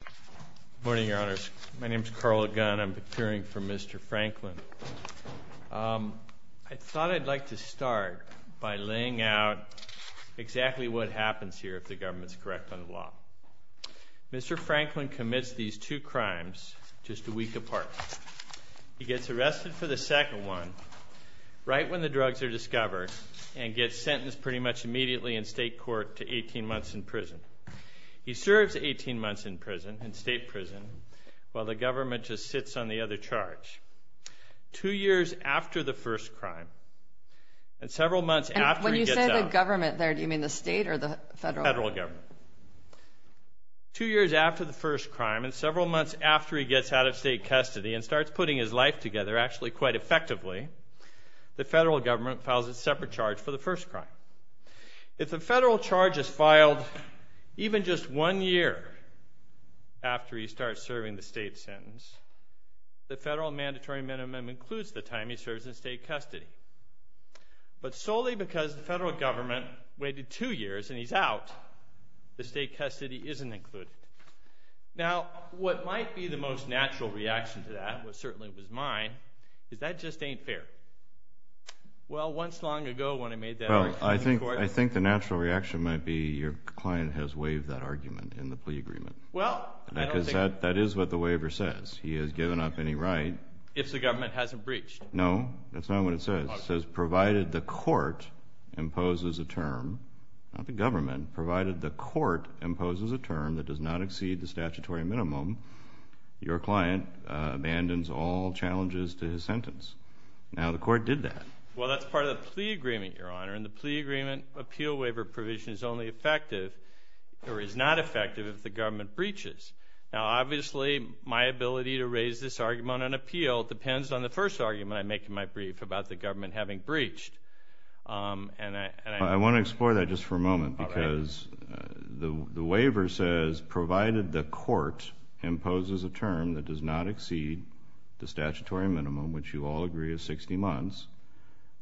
Good morning, your honors. My name is Carl Ogun. I'm procuring for Mr. Franklin. I thought I'd like to start by laying out exactly what happens here if the government's correct on the law. Mr. Franklin commits these two crimes just a week apart. He gets arrested for the second one right when the drugs are discovered and gets sentenced pretty much immediately in state court to 18 months in prison. He serves 18 months in prison, in state prison, while the government just sits on the other charge. Two years after the first crime and several months after he gets out... When you say the government there, do you mean the state or the federal government? Federal government. Two years after the first crime and several months after he gets out of state custody and starts putting his life together actually quite effectively, the federal government files a separate charge for the first crime. If the federal charge is filed even just one year after he starts serving the state sentence, the federal mandatory minimum includes the time he serves in state custody. But solely because the federal government waited two years and he's out, the state custody isn't included. Now, what might be the most natural reaction to that, which certainly was mine, is that just ain't fair. Well, once long ago when I made that argument in court... Well, I think the natural reaction might be your client has waived that argument in the plea agreement. Well, I don't think... Because that is what the waiver says. He has given up any right... If the government hasn't breached. No, that's not what it says. It says provided the court imposes a term, not the government, provided the court imposes a term that does not exceed the statutory minimum, your client abandons all challenges to his sentence. Now, the court did that. Well, that's part of the plea agreement, Your Honor, and the plea agreement appeal waiver provision is only effective or is not effective if the government breaches. Now, obviously, my ability to raise this argument on appeal depends on the first argument I make in my brief about the government having breached. I want to explore that just for a moment because the waiver says provided the court imposes a term that does not exceed the statutory minimum, which you all agree is 60 months,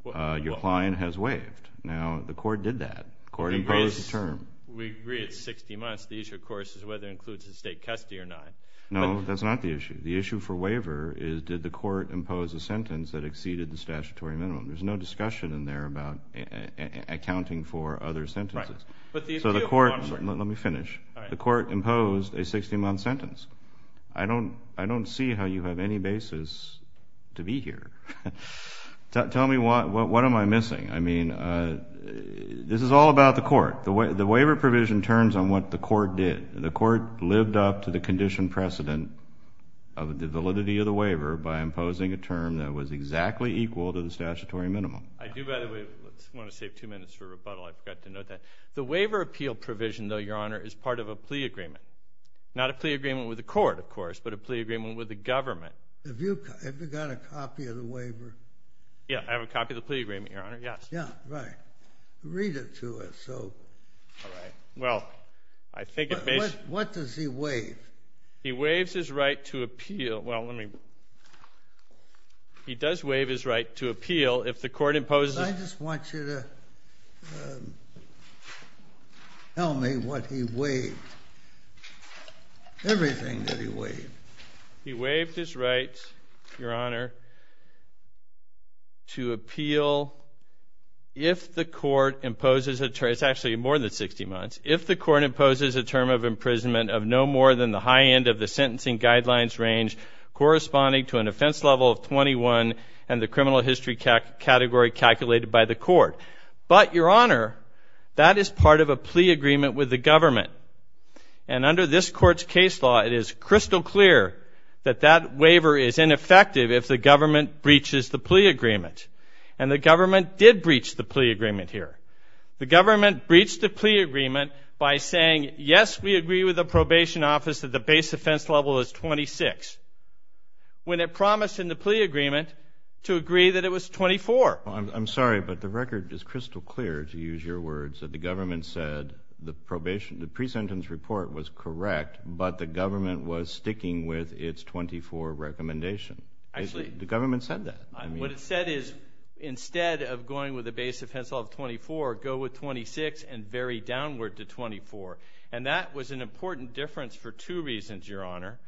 your client has waived. Now, the court did that. The court imposed the term. We agree it's 60 months. The issue, of course, is whether it includes a state custody or not. No, that's not the issue. The issue for waiver is did the court impose a sentence that exceeded the statutory minimum. There's no discussion in there about accounting for other sentences. So the court... Let me finish. The court imposed a 60-month sentence. I don't see how you have any basis to be here. Tell me, what am I missing? I mean, this is all about the court. The waiver provision turns on what the court did. The court lived up to the condition precedent of the validity of the waiver by imposing a term that was exactly equal to the statutory minimum. I do, by the way, want to save two minutes for rebuttal. I forgot to note that. The waiver appeal provision, though, Your Honor, is part of a plea agreement, not a plea agreement with the court, of course, but a plea agreement with the government. Have you got a copy of the waiver? Yeah, I have a copy of the plea agreement, Your Honor, yes. Yeah, right. Read it to us. All right. Well, I think it may... What does he waive? He waives his right to appeal. Well, let me... He does waive his right to appeal if the court imposes... I just want you to tell me what he waived, everything that he waived. He waived his right, Your Honor, to appeal if the court imposes a term. It's actually more than 60 months. If the court imposes a term of imprisonment of no more than the high end of the sentencing guidelines range corresponding to an offense level of 21 and the criminal history category calculated by the court. But, Your Honor, that is part of a plea agreement with the government. And under this court's case law, it is crystal clear that that waiver is ineffective if the government breaches the plea agreement. And the government did breach the plea agreement here. The government breached the plea agreement by saying, yes, we agree with the probation office that the base offense level is 26, when it promised in the plea agreement to agree that it was 24. I'm sorry, but the record is crystal clear, to use your words, that the government said the pre-sentence report was correct, but the government was sticking with its 24 recommendation. The government said that. What it said is, instead of going with a base offense level of 24, go with 26 and vary downward to 24. And that was an important difference for two reasons, Your Honor.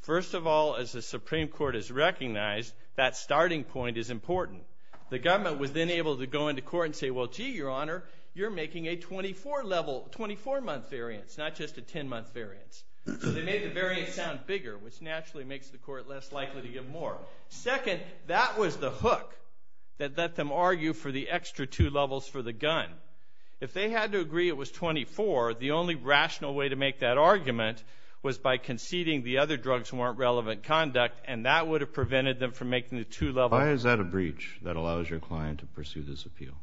First of all, as the Supreme Court has recognized, that starting point is important. The government was then able to go into court and say, well, gee, Your Honor, you're making a 24-month variance, not just a 10-month variance. So they made the variance sound bigger, which naturally makes the court less likely to give more. Second, that was the hook that let them argue for the extra two levels for the gun. If they had to agree it was 24, the only rational way to make that argument was by conceding the other drugs weren't relevant conduct, and that would have prevented them from making the two levels. Why is that a breach that allows your client to pursue this appeal?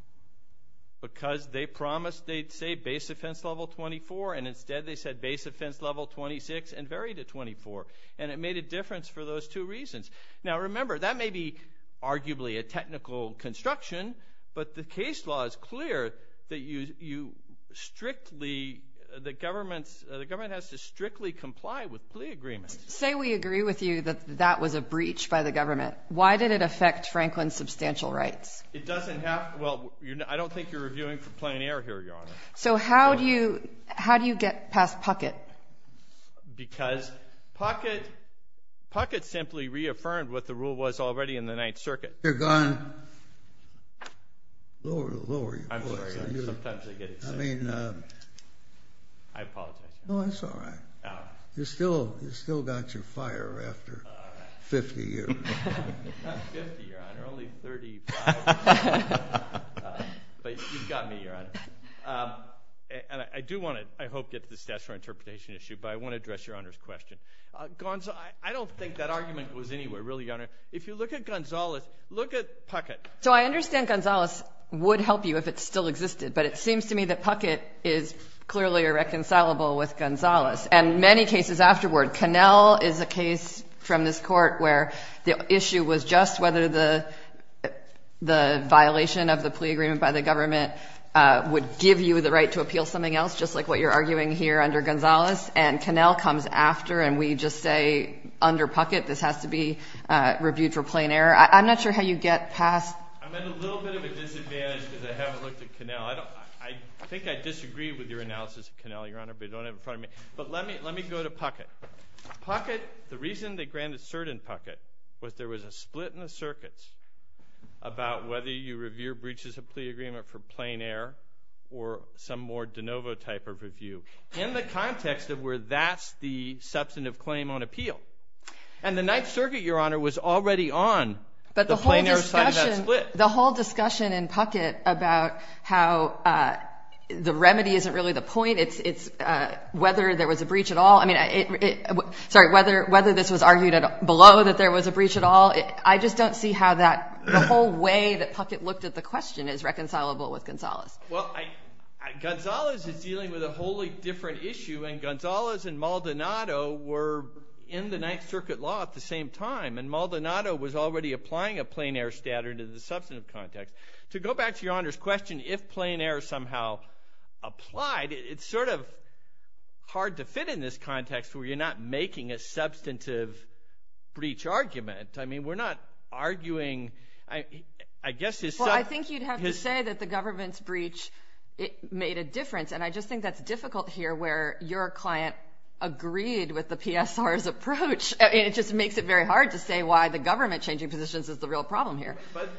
Because they promised they'd say base offense level 24, and instead they said base offense level 26 and varied it 24. And it made a difference for those two reasons. Now, remember, that may be arguably a technical construction, but the case law is clear that you strictly, the government has to strictly comply with plea agreements. Say we agree with you that that was a breach by the government. Why did it affect Franklin's substantial rights? It doesn't have, well, I don't think you're reviewing for plein air here, Your Honor. So how do you get past Puckett? Because Puckett simply reaffirmed what the rule was already in the Ninth Circuit. You're going lower and lower. I'm sorry. Sometimes I get excited. I mean. I apologize. No, that's all right. You still got your fire after 50 years. But you've got me, Your Honor. And I do want to, I hope, get to the statutory interpretation issue, but I want to address Your Honor's question. I don't think that argument was anywhere, really, Your Honor. If you look at Gonzales, look at Puckett. So I understand Gonzales would help you if it still existed, but it seems to me that Puckett is clearly irreconcilable with Gonzales and many cases afterward. Cannell is a case from this court where the issue was just whether the violation of the plea agreement by the government would give you the right to appeal something else, just like what you're arguing here under Gonzales, and Cannell comes after and we just say under Puckett this has to be reviewed for plain error. I'm not sure how you get past. I'm at a little bit of a disadvantage because I haven't looked at Cannell. I think I disagree with your analysis of Cannell, Your Honor, but you don't have it in front of me. But let me go to Puckett. Puckett, the reason they granted cert in Puckett was there was a split in the circuits about whether you review a breach as a plea agreement for plain error or some more de novo type of review in the context of where that's the substantive claim on appeal. And the Ninth Circuit, Your Honor, was already on the plain error side of that split. But the whole discussion in Puckett about how the remedy isn't really the point. It's whether there was a breach at all. I mean, sorry, whether this was argued below that there was a breach at all. I just don't see how that whole way that Puckett looked at the question is reconcilable with Gonzales. Well, Gonzales is dealing with a wholly different issue, and Gonzales and Maldonado were in the Ninth Circuit law at the same time, and Maldonado was already applying a plain error standard in the substantive context. To go back to Your Honor's question if plain error somehow applied, it's sort of hard to fit in this context where you're not making a substantive breach argument. I mean, we're not arguing. Well, I think you'd have to say that the government's breach made a difference, and I just think that's difficult here where your client agreed with the PSR's approach, and it just makes it very hard to say why the government changing positions is the real problem here. But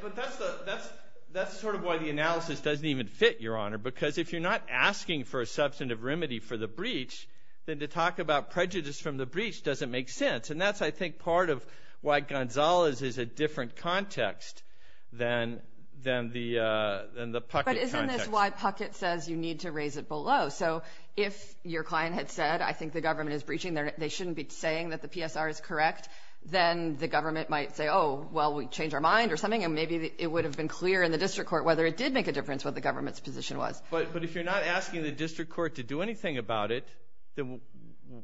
that's sort of why the analysis doesn't even fit, Your Honor, because if you're not asking for a substantive remedy for the breach, then to talk about prejudice from the breach doesn't make sense. And that's, I think, part of why Gonzales is a different context than the Puckett context. But isn't this why Puckett says you need to raise it below? So if your client had said, I think the government is breaching, they shouldn't be saying that the PSR is correct, then the government might say, oh, well, we changed our mind or something, and maybe it would have been clear in the district court whether it did make a difference what the government's position was. But if you're not asking the district court to do anything about it, then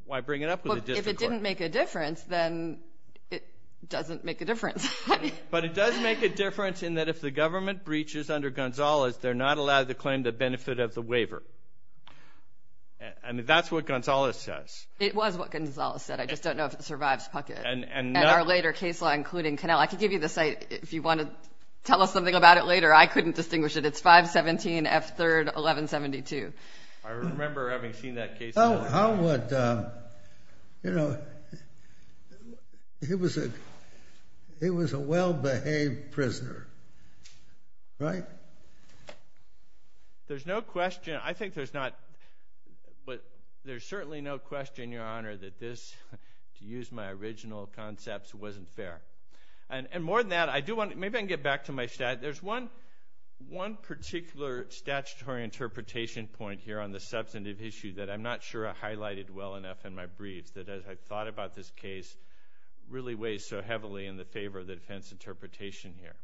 why bring it up with the district court? If it doesn't make a difference, then it doesn't make a difference. But it does make a difference in that if the government breaches under Gonzales, they're not allowed to claim the benefit of the waiver. I mean, that's what Gonzales says. It was what Gonzales said. I just don't know if it survives Puckett. And our later case law, including Connell. I can give you the site if you want to tell us something about it later. I couldn't distinguish it. It's 517 F. 3rd, 1172. I remember having seen that case. How would, you know, he was a well-behaved prisoner, right? There's no question. I think there's not, but there's certainly no question, Your Honor, that this, to use my original concepts, wasn't fair. And more than that, maybe I can get back to my stat. There's one particular statutory interpretation point here on the substantive issue that I'm not sure I highlighted well enough in my briefs, that as I thought about this case, really weighs so heavily in the favor of the defense interpretation here.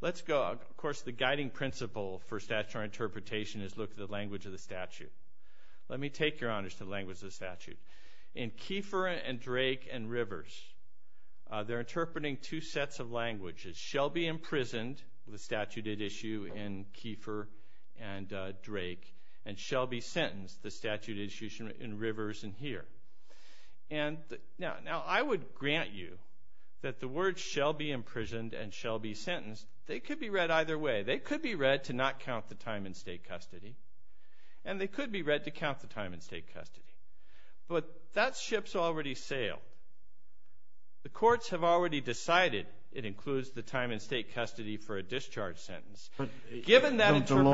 Let's go, of course, the guiding principle for statutory interpretation is look at the language of the statute. Let me take, Your Honors, to the language of the statute. In Kiefer and Drake and Rivers, they're interpreting two sets of languages. Shelby imprisoned, the statute at issue in Kiefer and Drake, and Shelby sentenced, the statute at issue in Rivers and here. Now, I would grant you that the words shall be imprisoned and shall be sentenced, they could be read either way. They could be read to not count the time in state custody, and they could be read to count the time in state custody. But that ship's already sailed. The courts have already decided it includes the time in state custody for a discharge sentence. Given that interpretation.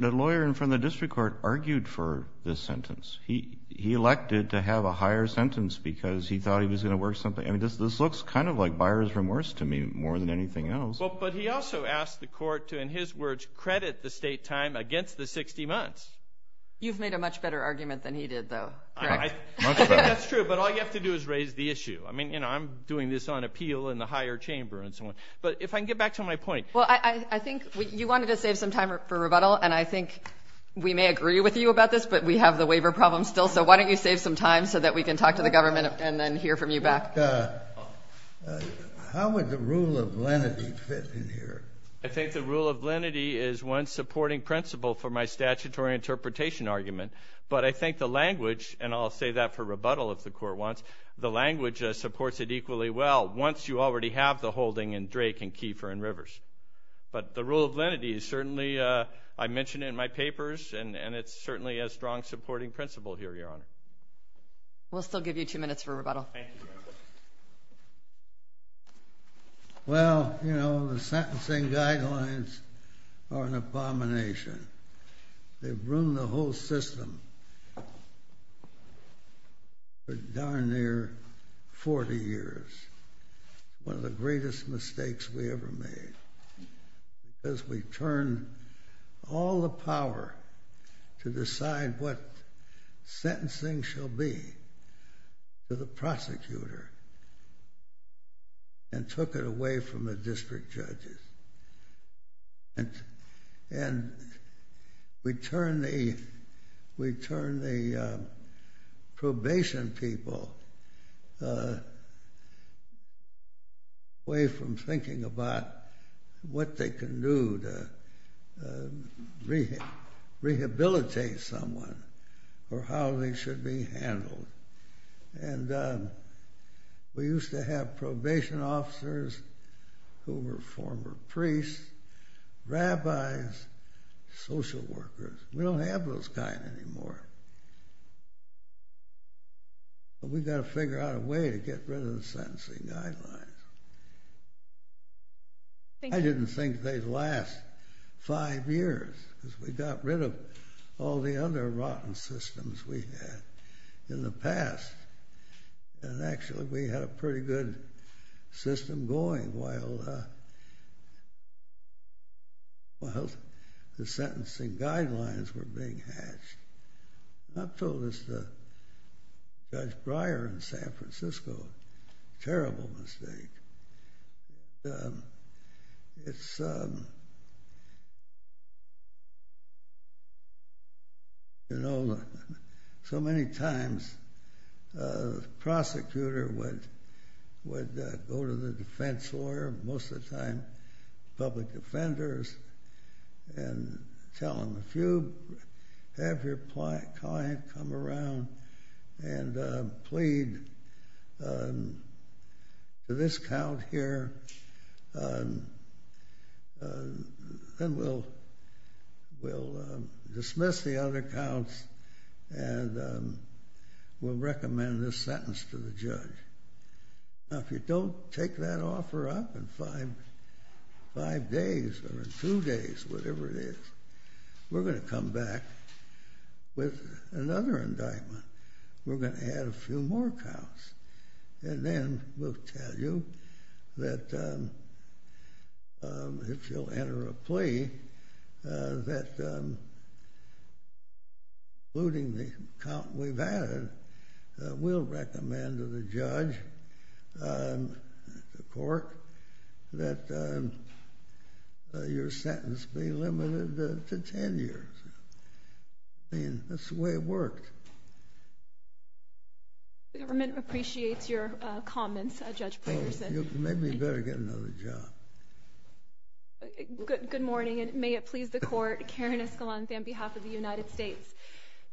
The lawyer in front of the district court argued for this sentence. He elected to have a higher sentence because he thought he was going to work something. I mean, this looks kind of like buyer's remorse to me more than anything else. But he also asked the court to, in his words, credit the state time against the 60 months. You've made a much better argument than he did, though, correct? Much better. That's true, but all you have to do is raise the issue. I mean, I'm doing this on appeal in the higher chamber and so on. But if I can get back to my point. Well, I think you wanted to save some time for rebuttal, and I think we may agree with you about this, but we have the waiver problem still. So why don't you save some time so that we can talk to the government and then hear from you back. How would the rule of lenity fit in here? I think the rule of lenity is one supporting principle for my statutory interpretation argument. But I think the language, and I'll say that for rebuttal if the court wants, the language supports it equally well once you already have the holding in Drake and Kiefer and Rivers. But the rule of lenity is certainly, I mention it in my papers, and it's certainly a strong supporting principle here, Your Honor. We'll still give you two minutes for rebuttal. Well, you know, the sentencing guidelines are an abomination. They've ruined the whole system for darn near 40 years. One of the greatest mistakes we ever made. As we turned all the power to decide what sentencing shall be to the prosecutor and took it away from the district judges. And we turned the probation people away from thinking about what they can do to rehabilitate someone or how they should be handled. And we used to have probation officers who were former priests, rabbis, social workers. We don't have those kind anymore. But we've got to figure out a way to get rid of the sentencing guidelines. I didn't think they'd last five years because we got rid of all the under-rotten systems we had in the past. And actually we had a pretty good system going while the sentencing guidelines were being hatched. I've told this to Judge Breyer in San Francisco. Terrible mistake. It's, you know, so many times the prosecutor would go to the defense lawyer, most of the time public defenders, and tell them, have your client come around and plead to this count here. Then we'll dismiss the other counts and we'll recommend this sentence to the judge. Now if you don't take that offer up in five days or in two days, whatever it is, we're going to come back with another indictment. We're going to add a few more counts. And then we'll tell you that if you'll enter a plea, that including the count we've added, we'll recommend to the judge, the court, that your sentence be limited to ten years. I mean, that's the way it worked. The government appreciates your comments, Judge Breyer. Maybe you'd better get another job. Good morning, and may it please the court, Karen Escalante on behalf of the United States.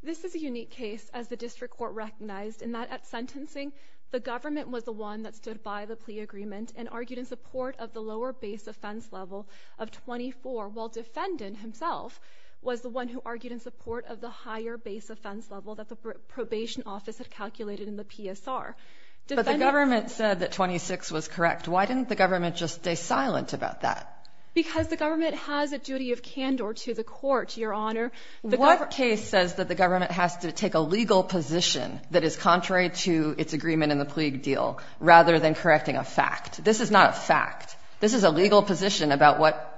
This is a unique case, as the district court recognized, in that at sentencing the government was the one that stood by the plea agreement and argued in support of the lower base offense level of 24, while defendant himself was the one who argued in support of the higher base offense level that the probation office had calculated in the PSR. But the government said that 26 was correct. Why didn't the government just stay silent about that? Because the government has a duty of candor to the court, Your Honor. What case says that the government has to take a legal position that is contrary to its agreement in the plea deal rather than correcting a fact? This is not a fact. This is a legal position about what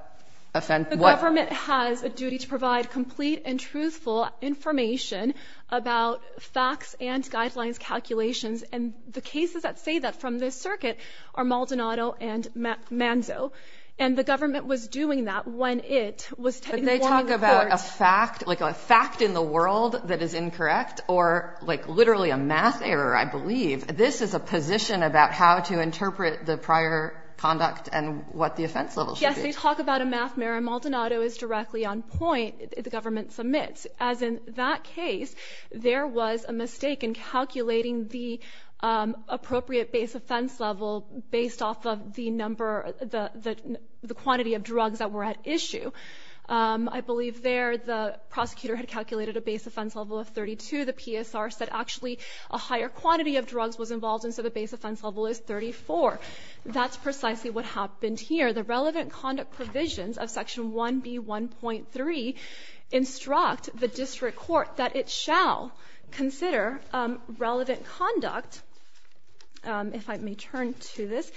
offense? The government has a duty to provide complete and truthful information about facts and guidelines calculations, and the cases that say that from this circuit are Maldonado and Manzo. And the government was doing that when it was informing the court. So they talk about a fact, like a fact in the world that is incorrect, or like literally a math error, I believe. This is a position about how to interpret the prior conduct and what the offense level should be. Yes, they talk about a math error. Maldonado is directly on point, the government submits. As in that case, there was a mistake in calculating the appropriate base offense level based off of the number, the quantity of drugs that were at issue. I believe there the prosecutor had calculated a base offense level of 32. The PSR said actually a higher quantity of drugs was involved, and so the base offense level is 34. That's precisely what happened here. The relevant conduct provisions of Section 1B1.3 instruct the district court that it shall consider relevant conduct, if I may turn to this,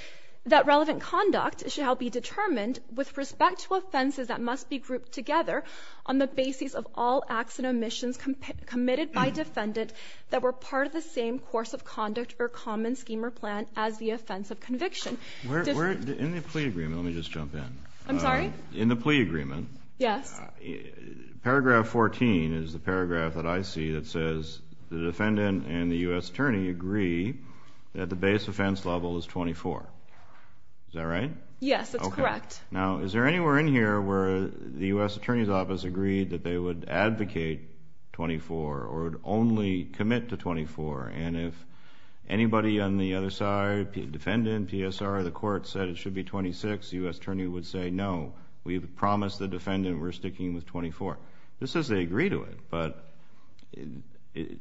that relevant conduct shall be determined with respect to offenses that must be grouped together on the basis of all acts and omissions committed by defendant that were part of the same course of conduct or common scheme or plan as the offense of conviction. In the plea agreement, let me just jump in. I'm sorry? In the plea agreement, paragraph 14 is the paragraph that I see that says the defendant and the U.S. attorney agree that the base offense level is 24. Is that right? Yes, that's correct. Okay. Now, is there anywhere in here where the U.S. attorney's office agreed that they would advocate 24 or would only commit to 24, and if anybody on the other side, defendant, PSR, the court, said it should be 26, the U.S. attorney would say no. We've promised the defendant we're sticking with 24. This says they agree to it, but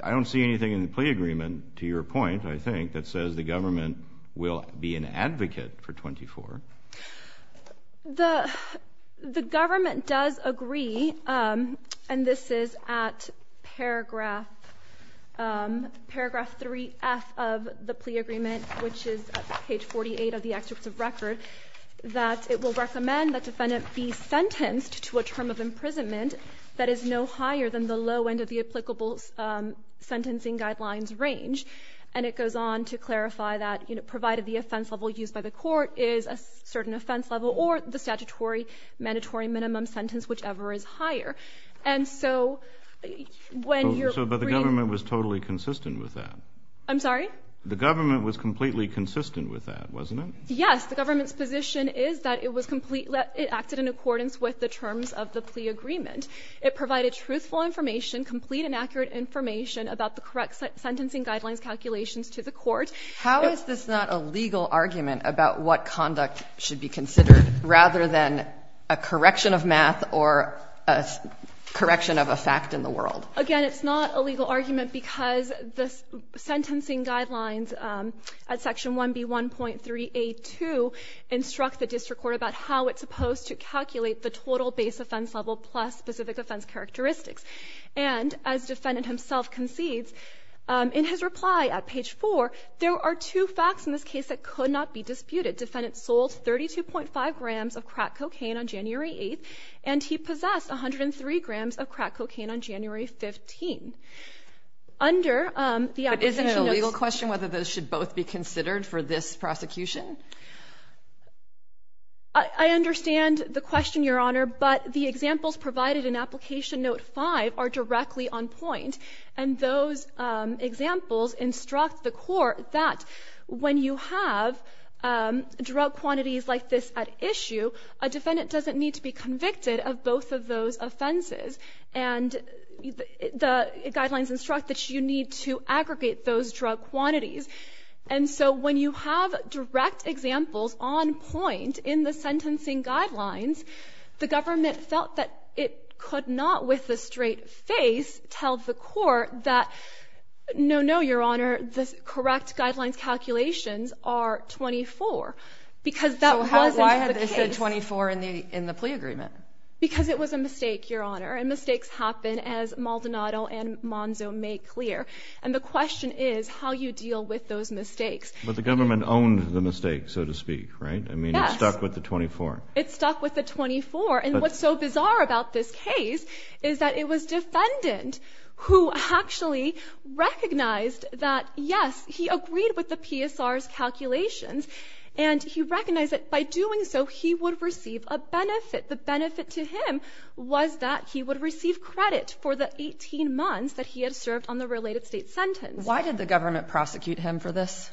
I don't see anything in the plea agreement, to your point, I think, that says the government will be an advocate for 24. The government does agree, and this is at paragraph 3F of the plea agreement, which is at page 48 of the executive record, that it will recommend that defendant be sentenced to a term of imprisonment that is no higher than the low end of the applicable sentencing guidelines range. And it goes on to clarify that provided the offense level used by the court is a certain offense level or the statutory mandatory minimum sentence, whichever is higher. And so when you're bringing up the government was totally consistent with that. I'm sorry? The government was completely consistent with that, wasn't it? Yes. The government's position is that it acted in accordance with the terms of the plea agreement. It provided truthful information, complete and accurate information about the correct sentencing guidelines calculations to the court. How is this not a legal argument about what conduct should be considered rather than a correction of math or a correction of a fact in the world? Again, it's not a legal argument because the sentencing guidelines at section 1B1.3A2 instruct the district court about how it's supposed to calculate the total base offense level plus specific offense characteristics. And as defendant himself concedes, in his reply at page 4, there are two facts in this case that could not be disputed. Defendant sold 32.5 grams of crack cocaine on January 8th, and he possessed 103 grams of crack cocaine on January 15th. But isn't it a legal question whether those should both be considered for this prosecution? I understand the question, Your Honor, but the examples provided in Application Note 5 are directly on point. And those examples instruct the court that when you have drug quantities like this at issue, a defendant doesn't need to be convicted of both of those offenses. And the guidelines instruct that you need to aggregate those drug quantities. And so when you have direct examples on point in the sentencing guidelines, the government felt that it could not with a straight face tell the court that, no, no, Your Honor, the correct guidelines calculations are 24 because that wasn't the case. Why 24 in the plea agreement? Because it was a mistake, Your Honor. And mistakes happen, as Maldonado and Monzo make clear. And the question is how you deal with those mistakes. But the government owned the mistake, so to speak, right? Yes. I mean, it stuck with the 24. It stuck with the 24. And what's so bizarre about this case is that it was defendant who actually recognized that, yes, he agreed with the PSR's calculations, and he recognized that by doing so he would receive a benefit. The benefit to him was that he would receive credit for the 18 months that he had served on the related state sentence. Why did the government prosecute him for this?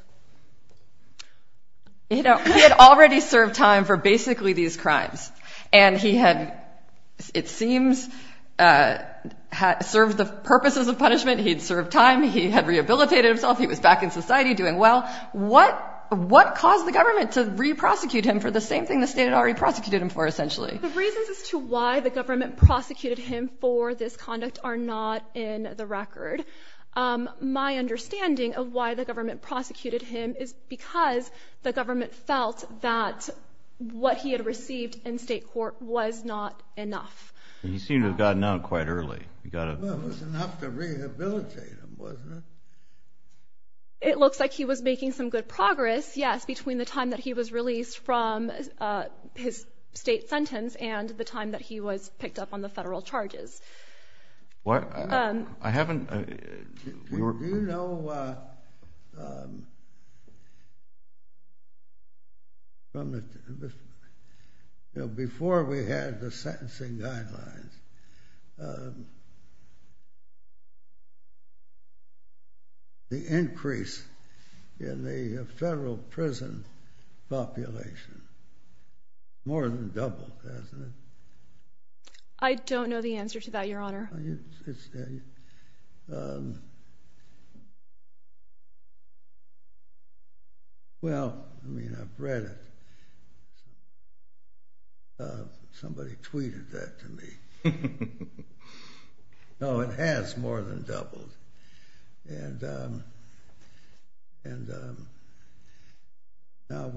You know, he had already served time for basically these crimes. And he had, it seems, served the purposes of punishment. He had served time. He had rehabilitated himself. He was back in society doing well. What caused the government to re-prosecute him for the same thing the state had already prosecuted him for, essentially? The reasons as to why the government prosecuted him for this conduct are not in the record. My understanding of why the government prosecuted him is because the government felt that what he had received in state court was not enough. He seemed to have gotten out quite early. It was enough to rehabilitate him, wasn't it? It looks like he was making some good progress, yes, between the time that he was released from his state sentence and the time that he was picked up on the federal charges. Before we had the sentencing guidelines, the increase in the federal prison population more than doubled, hasn't it? I don't know the answer to that, Your Honor. Well, I mean, I've read it. Somebody tweeted that to me. No, it has more than doubled. Now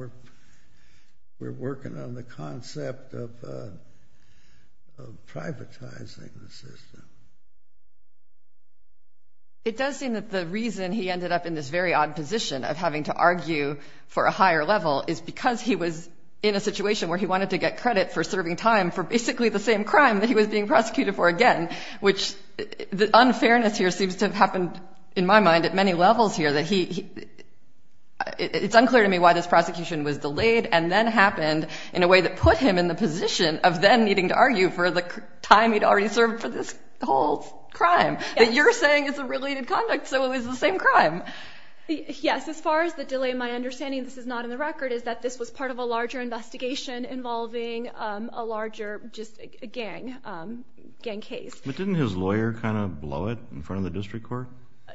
we're working on the concept of privatizing the system. It does seem that the reason he ended up in this very odd position of having to argue for a higher level is because he was in a situation where he wanted to get credit for serving time for basically the same crime that he was being prosecuted for again, which the unfairness here seems to have happened, in my mind, at many levels here. It's unclear to me why this prosecution was delayed and then happened in a way that put him in the position of then needing to argue for the time he'd already served for this whole crime that you're saying is a related conduct so it was the same crime. Yes, as far as the delay, my understanding, this is not in the record, is that this was part of a larger investigation involving a larger gang case. But didn't his lawyer kind of blow it in front of the district court?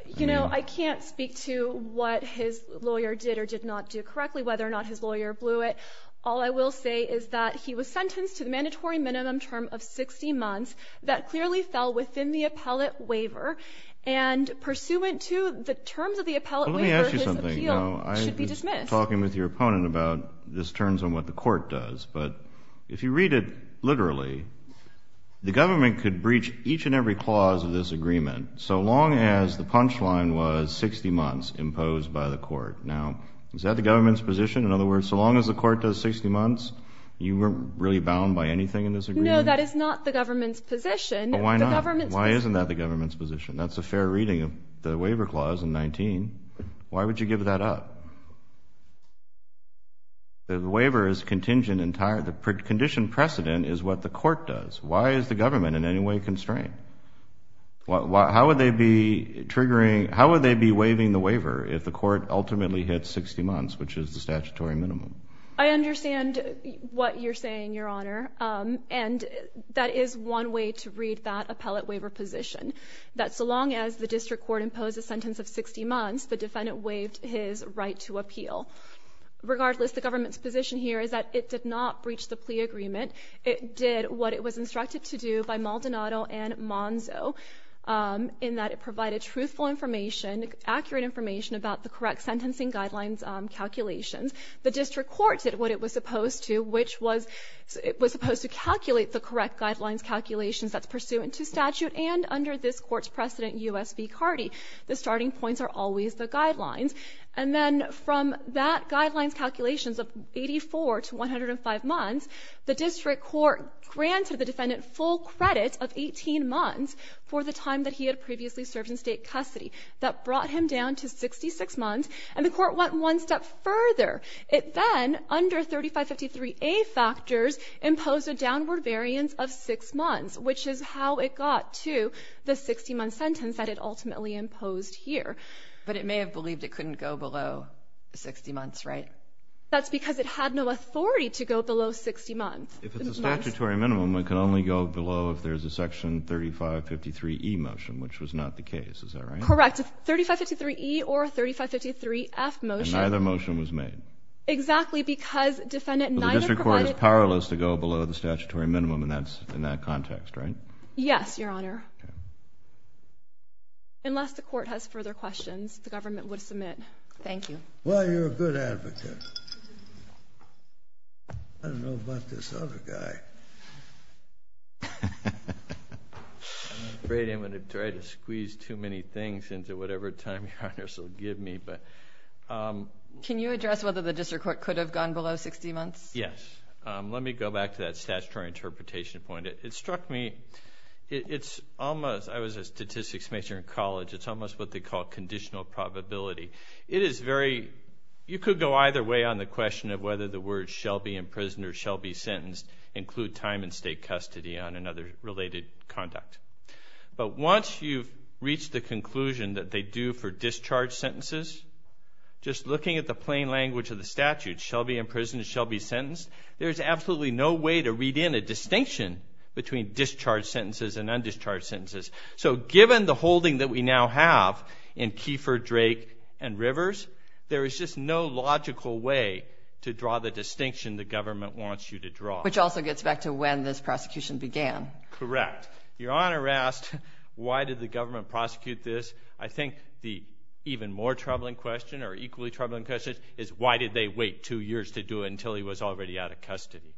You know, I can't speak to what his lawyer did or did not do correctly, whether or not his lawyer blew it. All I will say is that he was sentenced to the mandatory minimum term of 60 months that clearly fell within the appellate waiver, and pursuant to the terms of the appellate waiver, his appeal should be dismissed. You're talking with your opponent about this turns on what the court does, but if you read it literally, the government could breach each and every clause of this agreement so long as the punchline was 60 months imposed by the court. Now, is that the government's position? In other words, so long as the court does 60 months, you weren't really bound by anything in this agreement? No, that is not the government's position. Why not? Why isn't that the government's position? That's a fair reading of the waiver clause in 19. Why would you give that up? The waiver is contingent entirely. The condition precedent is what the court does. Why is the government in any way constrained? How would they be triggering, how would they be waiving the waiver if the court ultimately hits 60 months, which is the statutory minimum? I understand what you're saying, Your Honor, and that is one way to read that appellate waiver position, that so long as the district court imposed a sentence of 60 months, the defendant waived his right to appeal. Regardless, the government's position here is that it did not breach the plea agreement. It did what it was instructed to do by Maldonado and Monzo in that it provided truthful information, accurate information about the correct sentencing guidelines calculations. The district court did what it was supposed to, which was it was supposed to calculate the correct guidelines calculations that's pursuant to statute and under this court's precedent, U.S. v. Carty. The starting points are always the guidelines. And then from that guidelines calculations of 84 to 105 months, the district court granted the defendant full credit of 18 months for the time that he had previously served in state custody. That brought him down to 66 months, and the court went one step further. It then, under 3553A factors, imposed a downward variance of 6 months, which is how it got to the 60-month sentence that it ultimately imposed here. But it may have believed it couldn't go below 60 months, right? That's because it had no authority to go below 60 months. If it's a statutory minimum, it can only go below if there's a section 3553E motion, which was not the case. Is that right? Correct. 3553E or 3553F motion. And neither motion was made. Exactly, because defendant neither provided... Yes, Your Honor. Unless the court has further questions, the government would submit. Thank you. Well, you're a good advocate. I don't know about this other guy. I'm afraid I'm going to try to squeeze too many things into whatever time Your Honors will give me. Can you address whether the district court could have gone below 60 months? Yes. Let me go back to that statutory interpretation point. It struck me it's almost... I was a statistics major in college. It's almost what they call conditional probability. It is very... You could go either way on the question of whether the words shall be imprisoned or shall be sentenced include time in state custody on another related conduct. But once you've reached the conclusion that they do for discharge sentences, just looking at the plain language of the statute, shall be imprisoned, shall be sentenced, there's absolutely no way to read in a distinction between discharged sentences and undischarged sentences. So given the holding that we now have in Kiefer, Drake, and Rivers, there is just no logical way to draw the distinction the government wants you to draw. Which also gets back to when this prosecution began. Correct. Your Honor asked why did the government prosecute this. I think the even more troubling question or equally troubling question is why did they wait two years to do it until he was already out of custody.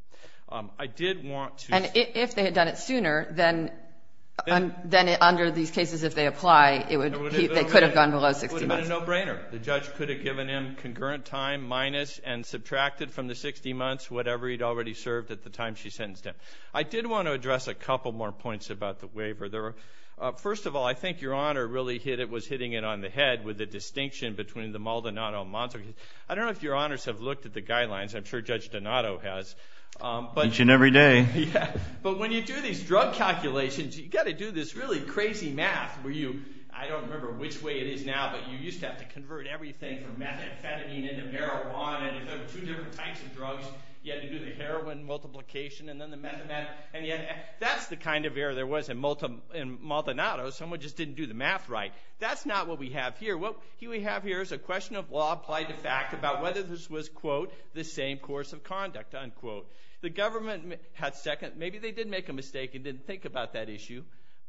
I did want to... And if they had done it sooner, then under these cases if they apply, they could have gone below 60 months. It would have been a no-brainer. The judge could have given him concurrent time minus and subtracted from the 60 months whatever he'd already served at the time she sentenced him. I did want to address a couple more points about the waiver. First of all, I think Your Honor really was hitting it on the head with the distinction between the Maldonado and Montague case. I don't know if Your Honors have looked at the guidelines. I'm sure Judge Donato has. Each and every day. But when you do these drug calculations, you've got to do this really crazy math where you, I don't remember which way it is now, but you used to have to convert everything from methamphetamine into marijuana and two different types of drugs. You had to do the heroin multiplication and then the methameth. That's the kind of error there was in Maldonado. Someone just didn't do the math right. That's not what we have here. What we have here is a question of law applied to fact about whether this was, quote, the same course of conduct, unquote. The government had second. Maybe they did make a mistake and didn't think about that issue,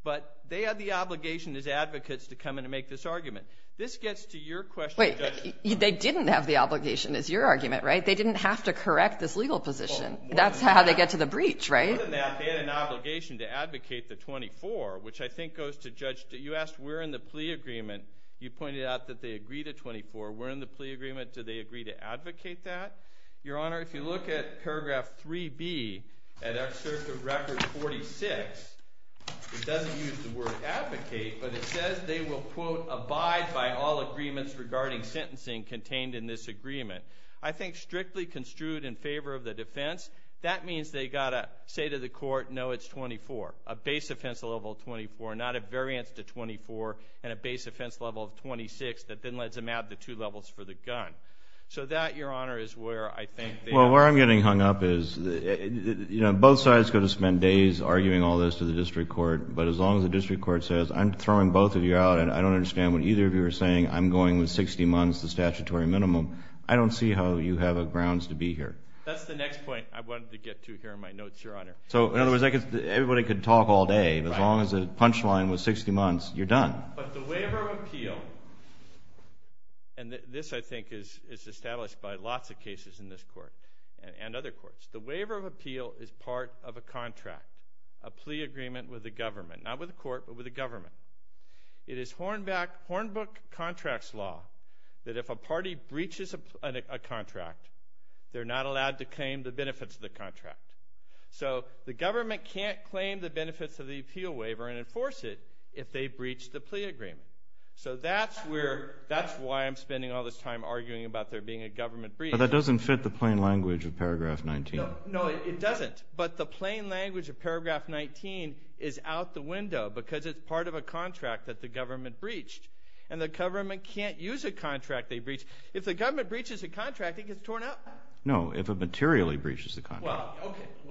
but they had the obligation as advocates to come in and make this argument. This gets to your question. Wait. They didn't have the obligation, is your argument, right? They didn't have to correct this legal position. That's how they get to the breach, right? Other than that, they had an obligation to advocate the 24, which I think goes to Judge, you asked where in the plea agreement, you pointed out that they agreed to 24. Where in the plea agreement did they agree to advocate that? Your Honor, if you look at paragraph 3B at Excerpt of Record 46, it doesn't use the word advocate, but it says they will, quote, abide by all agreements regarding sentencing contained in this agreement. I think strictly construed in favor of the defense, that means they've got to say to the court, no, it's 24, a base offense level of 24, not a variance to 24, and a base offense level of 26 that then lets them add the two levels for the gun. So that, Your Honor, is where I think they are. Well, where I'm getting hung up is both sides are going to spend days arguing all this to the district court, but as long as the district court says I'm throwing both of you out and I don't understand what either of you are saying, I'm going with 60 months, the statutory minimum, I don't see how you have a grounds to be here. That's the next point I wanted to get to here in my notes, Your Honor. So in other words, everybody could talk all day, but as long as the punchline was 60 months, you're done. But the waiver of appeal, and this I think is established by lots of cases in this court and other courts, the waiver of appeal is part of a contract, a plea agreement with the government, not with the court, but with the government. It is Hornbook contracts law that if a party breaches a contract, they're not allowed to claim the benefits of the contract. So the government can't claim the benefits of the appeal waiver and enforce it if they breach the plea agreement. So that's why I'm spending all this time arguing about there being a government breach. But that doesn't fit the plain language of paragraph 19. No, it doesn't, but the plain language of paragraph 19 is out the window because it's part of a contract that the government breached, and the government can't use a contract they breached. If the government breaches a contract, it gets torn up. No, if it materially breaches the contract.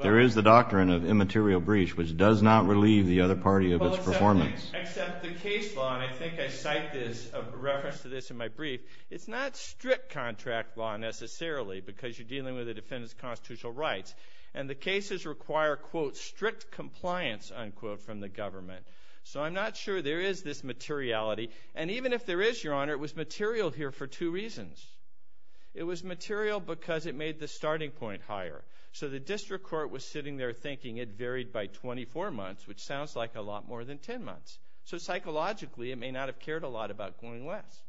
There is the doctrine of immaterial breach, which does not relieve the other party of its performance. Except the case law, and I think I cite this in reference to this in my brief, it's not strict contract law necessarily because you're dealing with a defendant's constitutional rights, and the cases require, quote, strict compliance, unquote, from the government. So I'm not sure there is this materiality, and even if there is, Your Honor, it was material here for two reasons. It was material because it made the starting point higher. So the district court was sitting there thinking it varied by 24 months, which sounds like a lot more than 10 months. So psychologically, it may not have cared a lot about going less.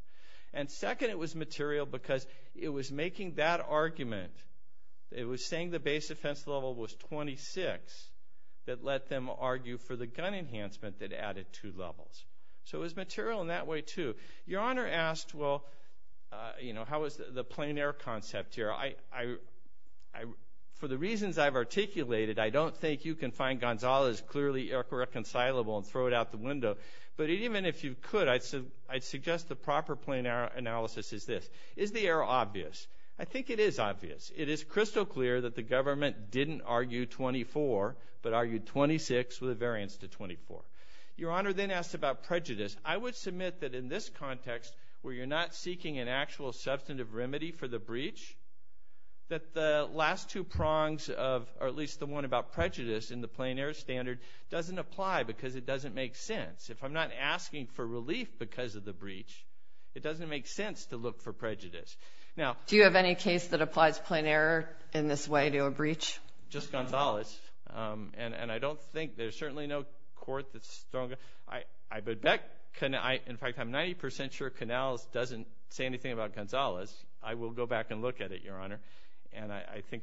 And second, it was material because it was making that argument. It was saying the base defense level was 26 that let them argue for the gun enhancement that added two levels. So it was material in that way, too. Your Honor asked, well, you know, how is the plein air concept here? For the reasons I've articulated, I don't think you can find Gonzales clearly irreconcilable and throw it out the window. But even if you could, I'd suggest the proper plein air analysis is this. Is the air obvious? I think it is obvious. It is crystal clear that the government didn't argue 24, but argued 26 with a variance to 24. Your Honor then asked about prejudice. I would submit that in this context, where you're not seeking an actual substantive remedy for the breach, that the last two prongs, or at least the one about prejudice in the plein air standard, doesn't apply because it doesn't make sense. If I'm not asking for relief because of the breach, it doesn't make sense to look for prejudice. Do you have any case that applies plein air in this way to a breach? Just Gonzales. And I don't think there's certainly no court that's stronger. In fact, I'm 90% sure Canals doesn't say anything about Gonzales. I will go back and look at it, Your Honor.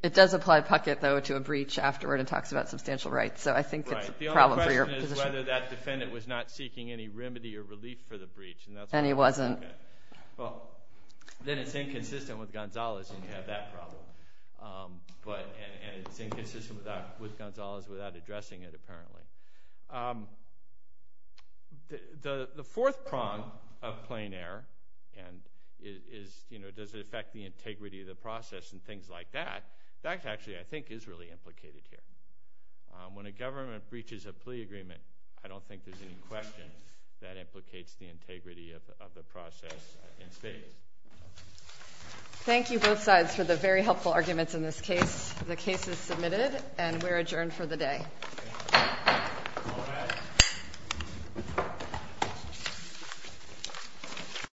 It does apply Puckett, though, to a breach afterward and talks about substantial rights. So I think it's a problem for your position. The only question is whether that defendant was not seeking any remedy or relief for the breach. And he wasn't. Then it's inconsistent with Gonzales, and you have that problem. And it's inconsistent with Gonzales without addressing it, apparently. The fourth prong of plein air, and does it affect the integrity of the process and things like that, that actually, I think, is really implicated here. When a government breaches a plea agreement, I don't think there's any question that implicates the integrity of the process in spade. Thank you, both sides, for the very helpful arguments in this case. The case is submitted, and we're adjourned for the day.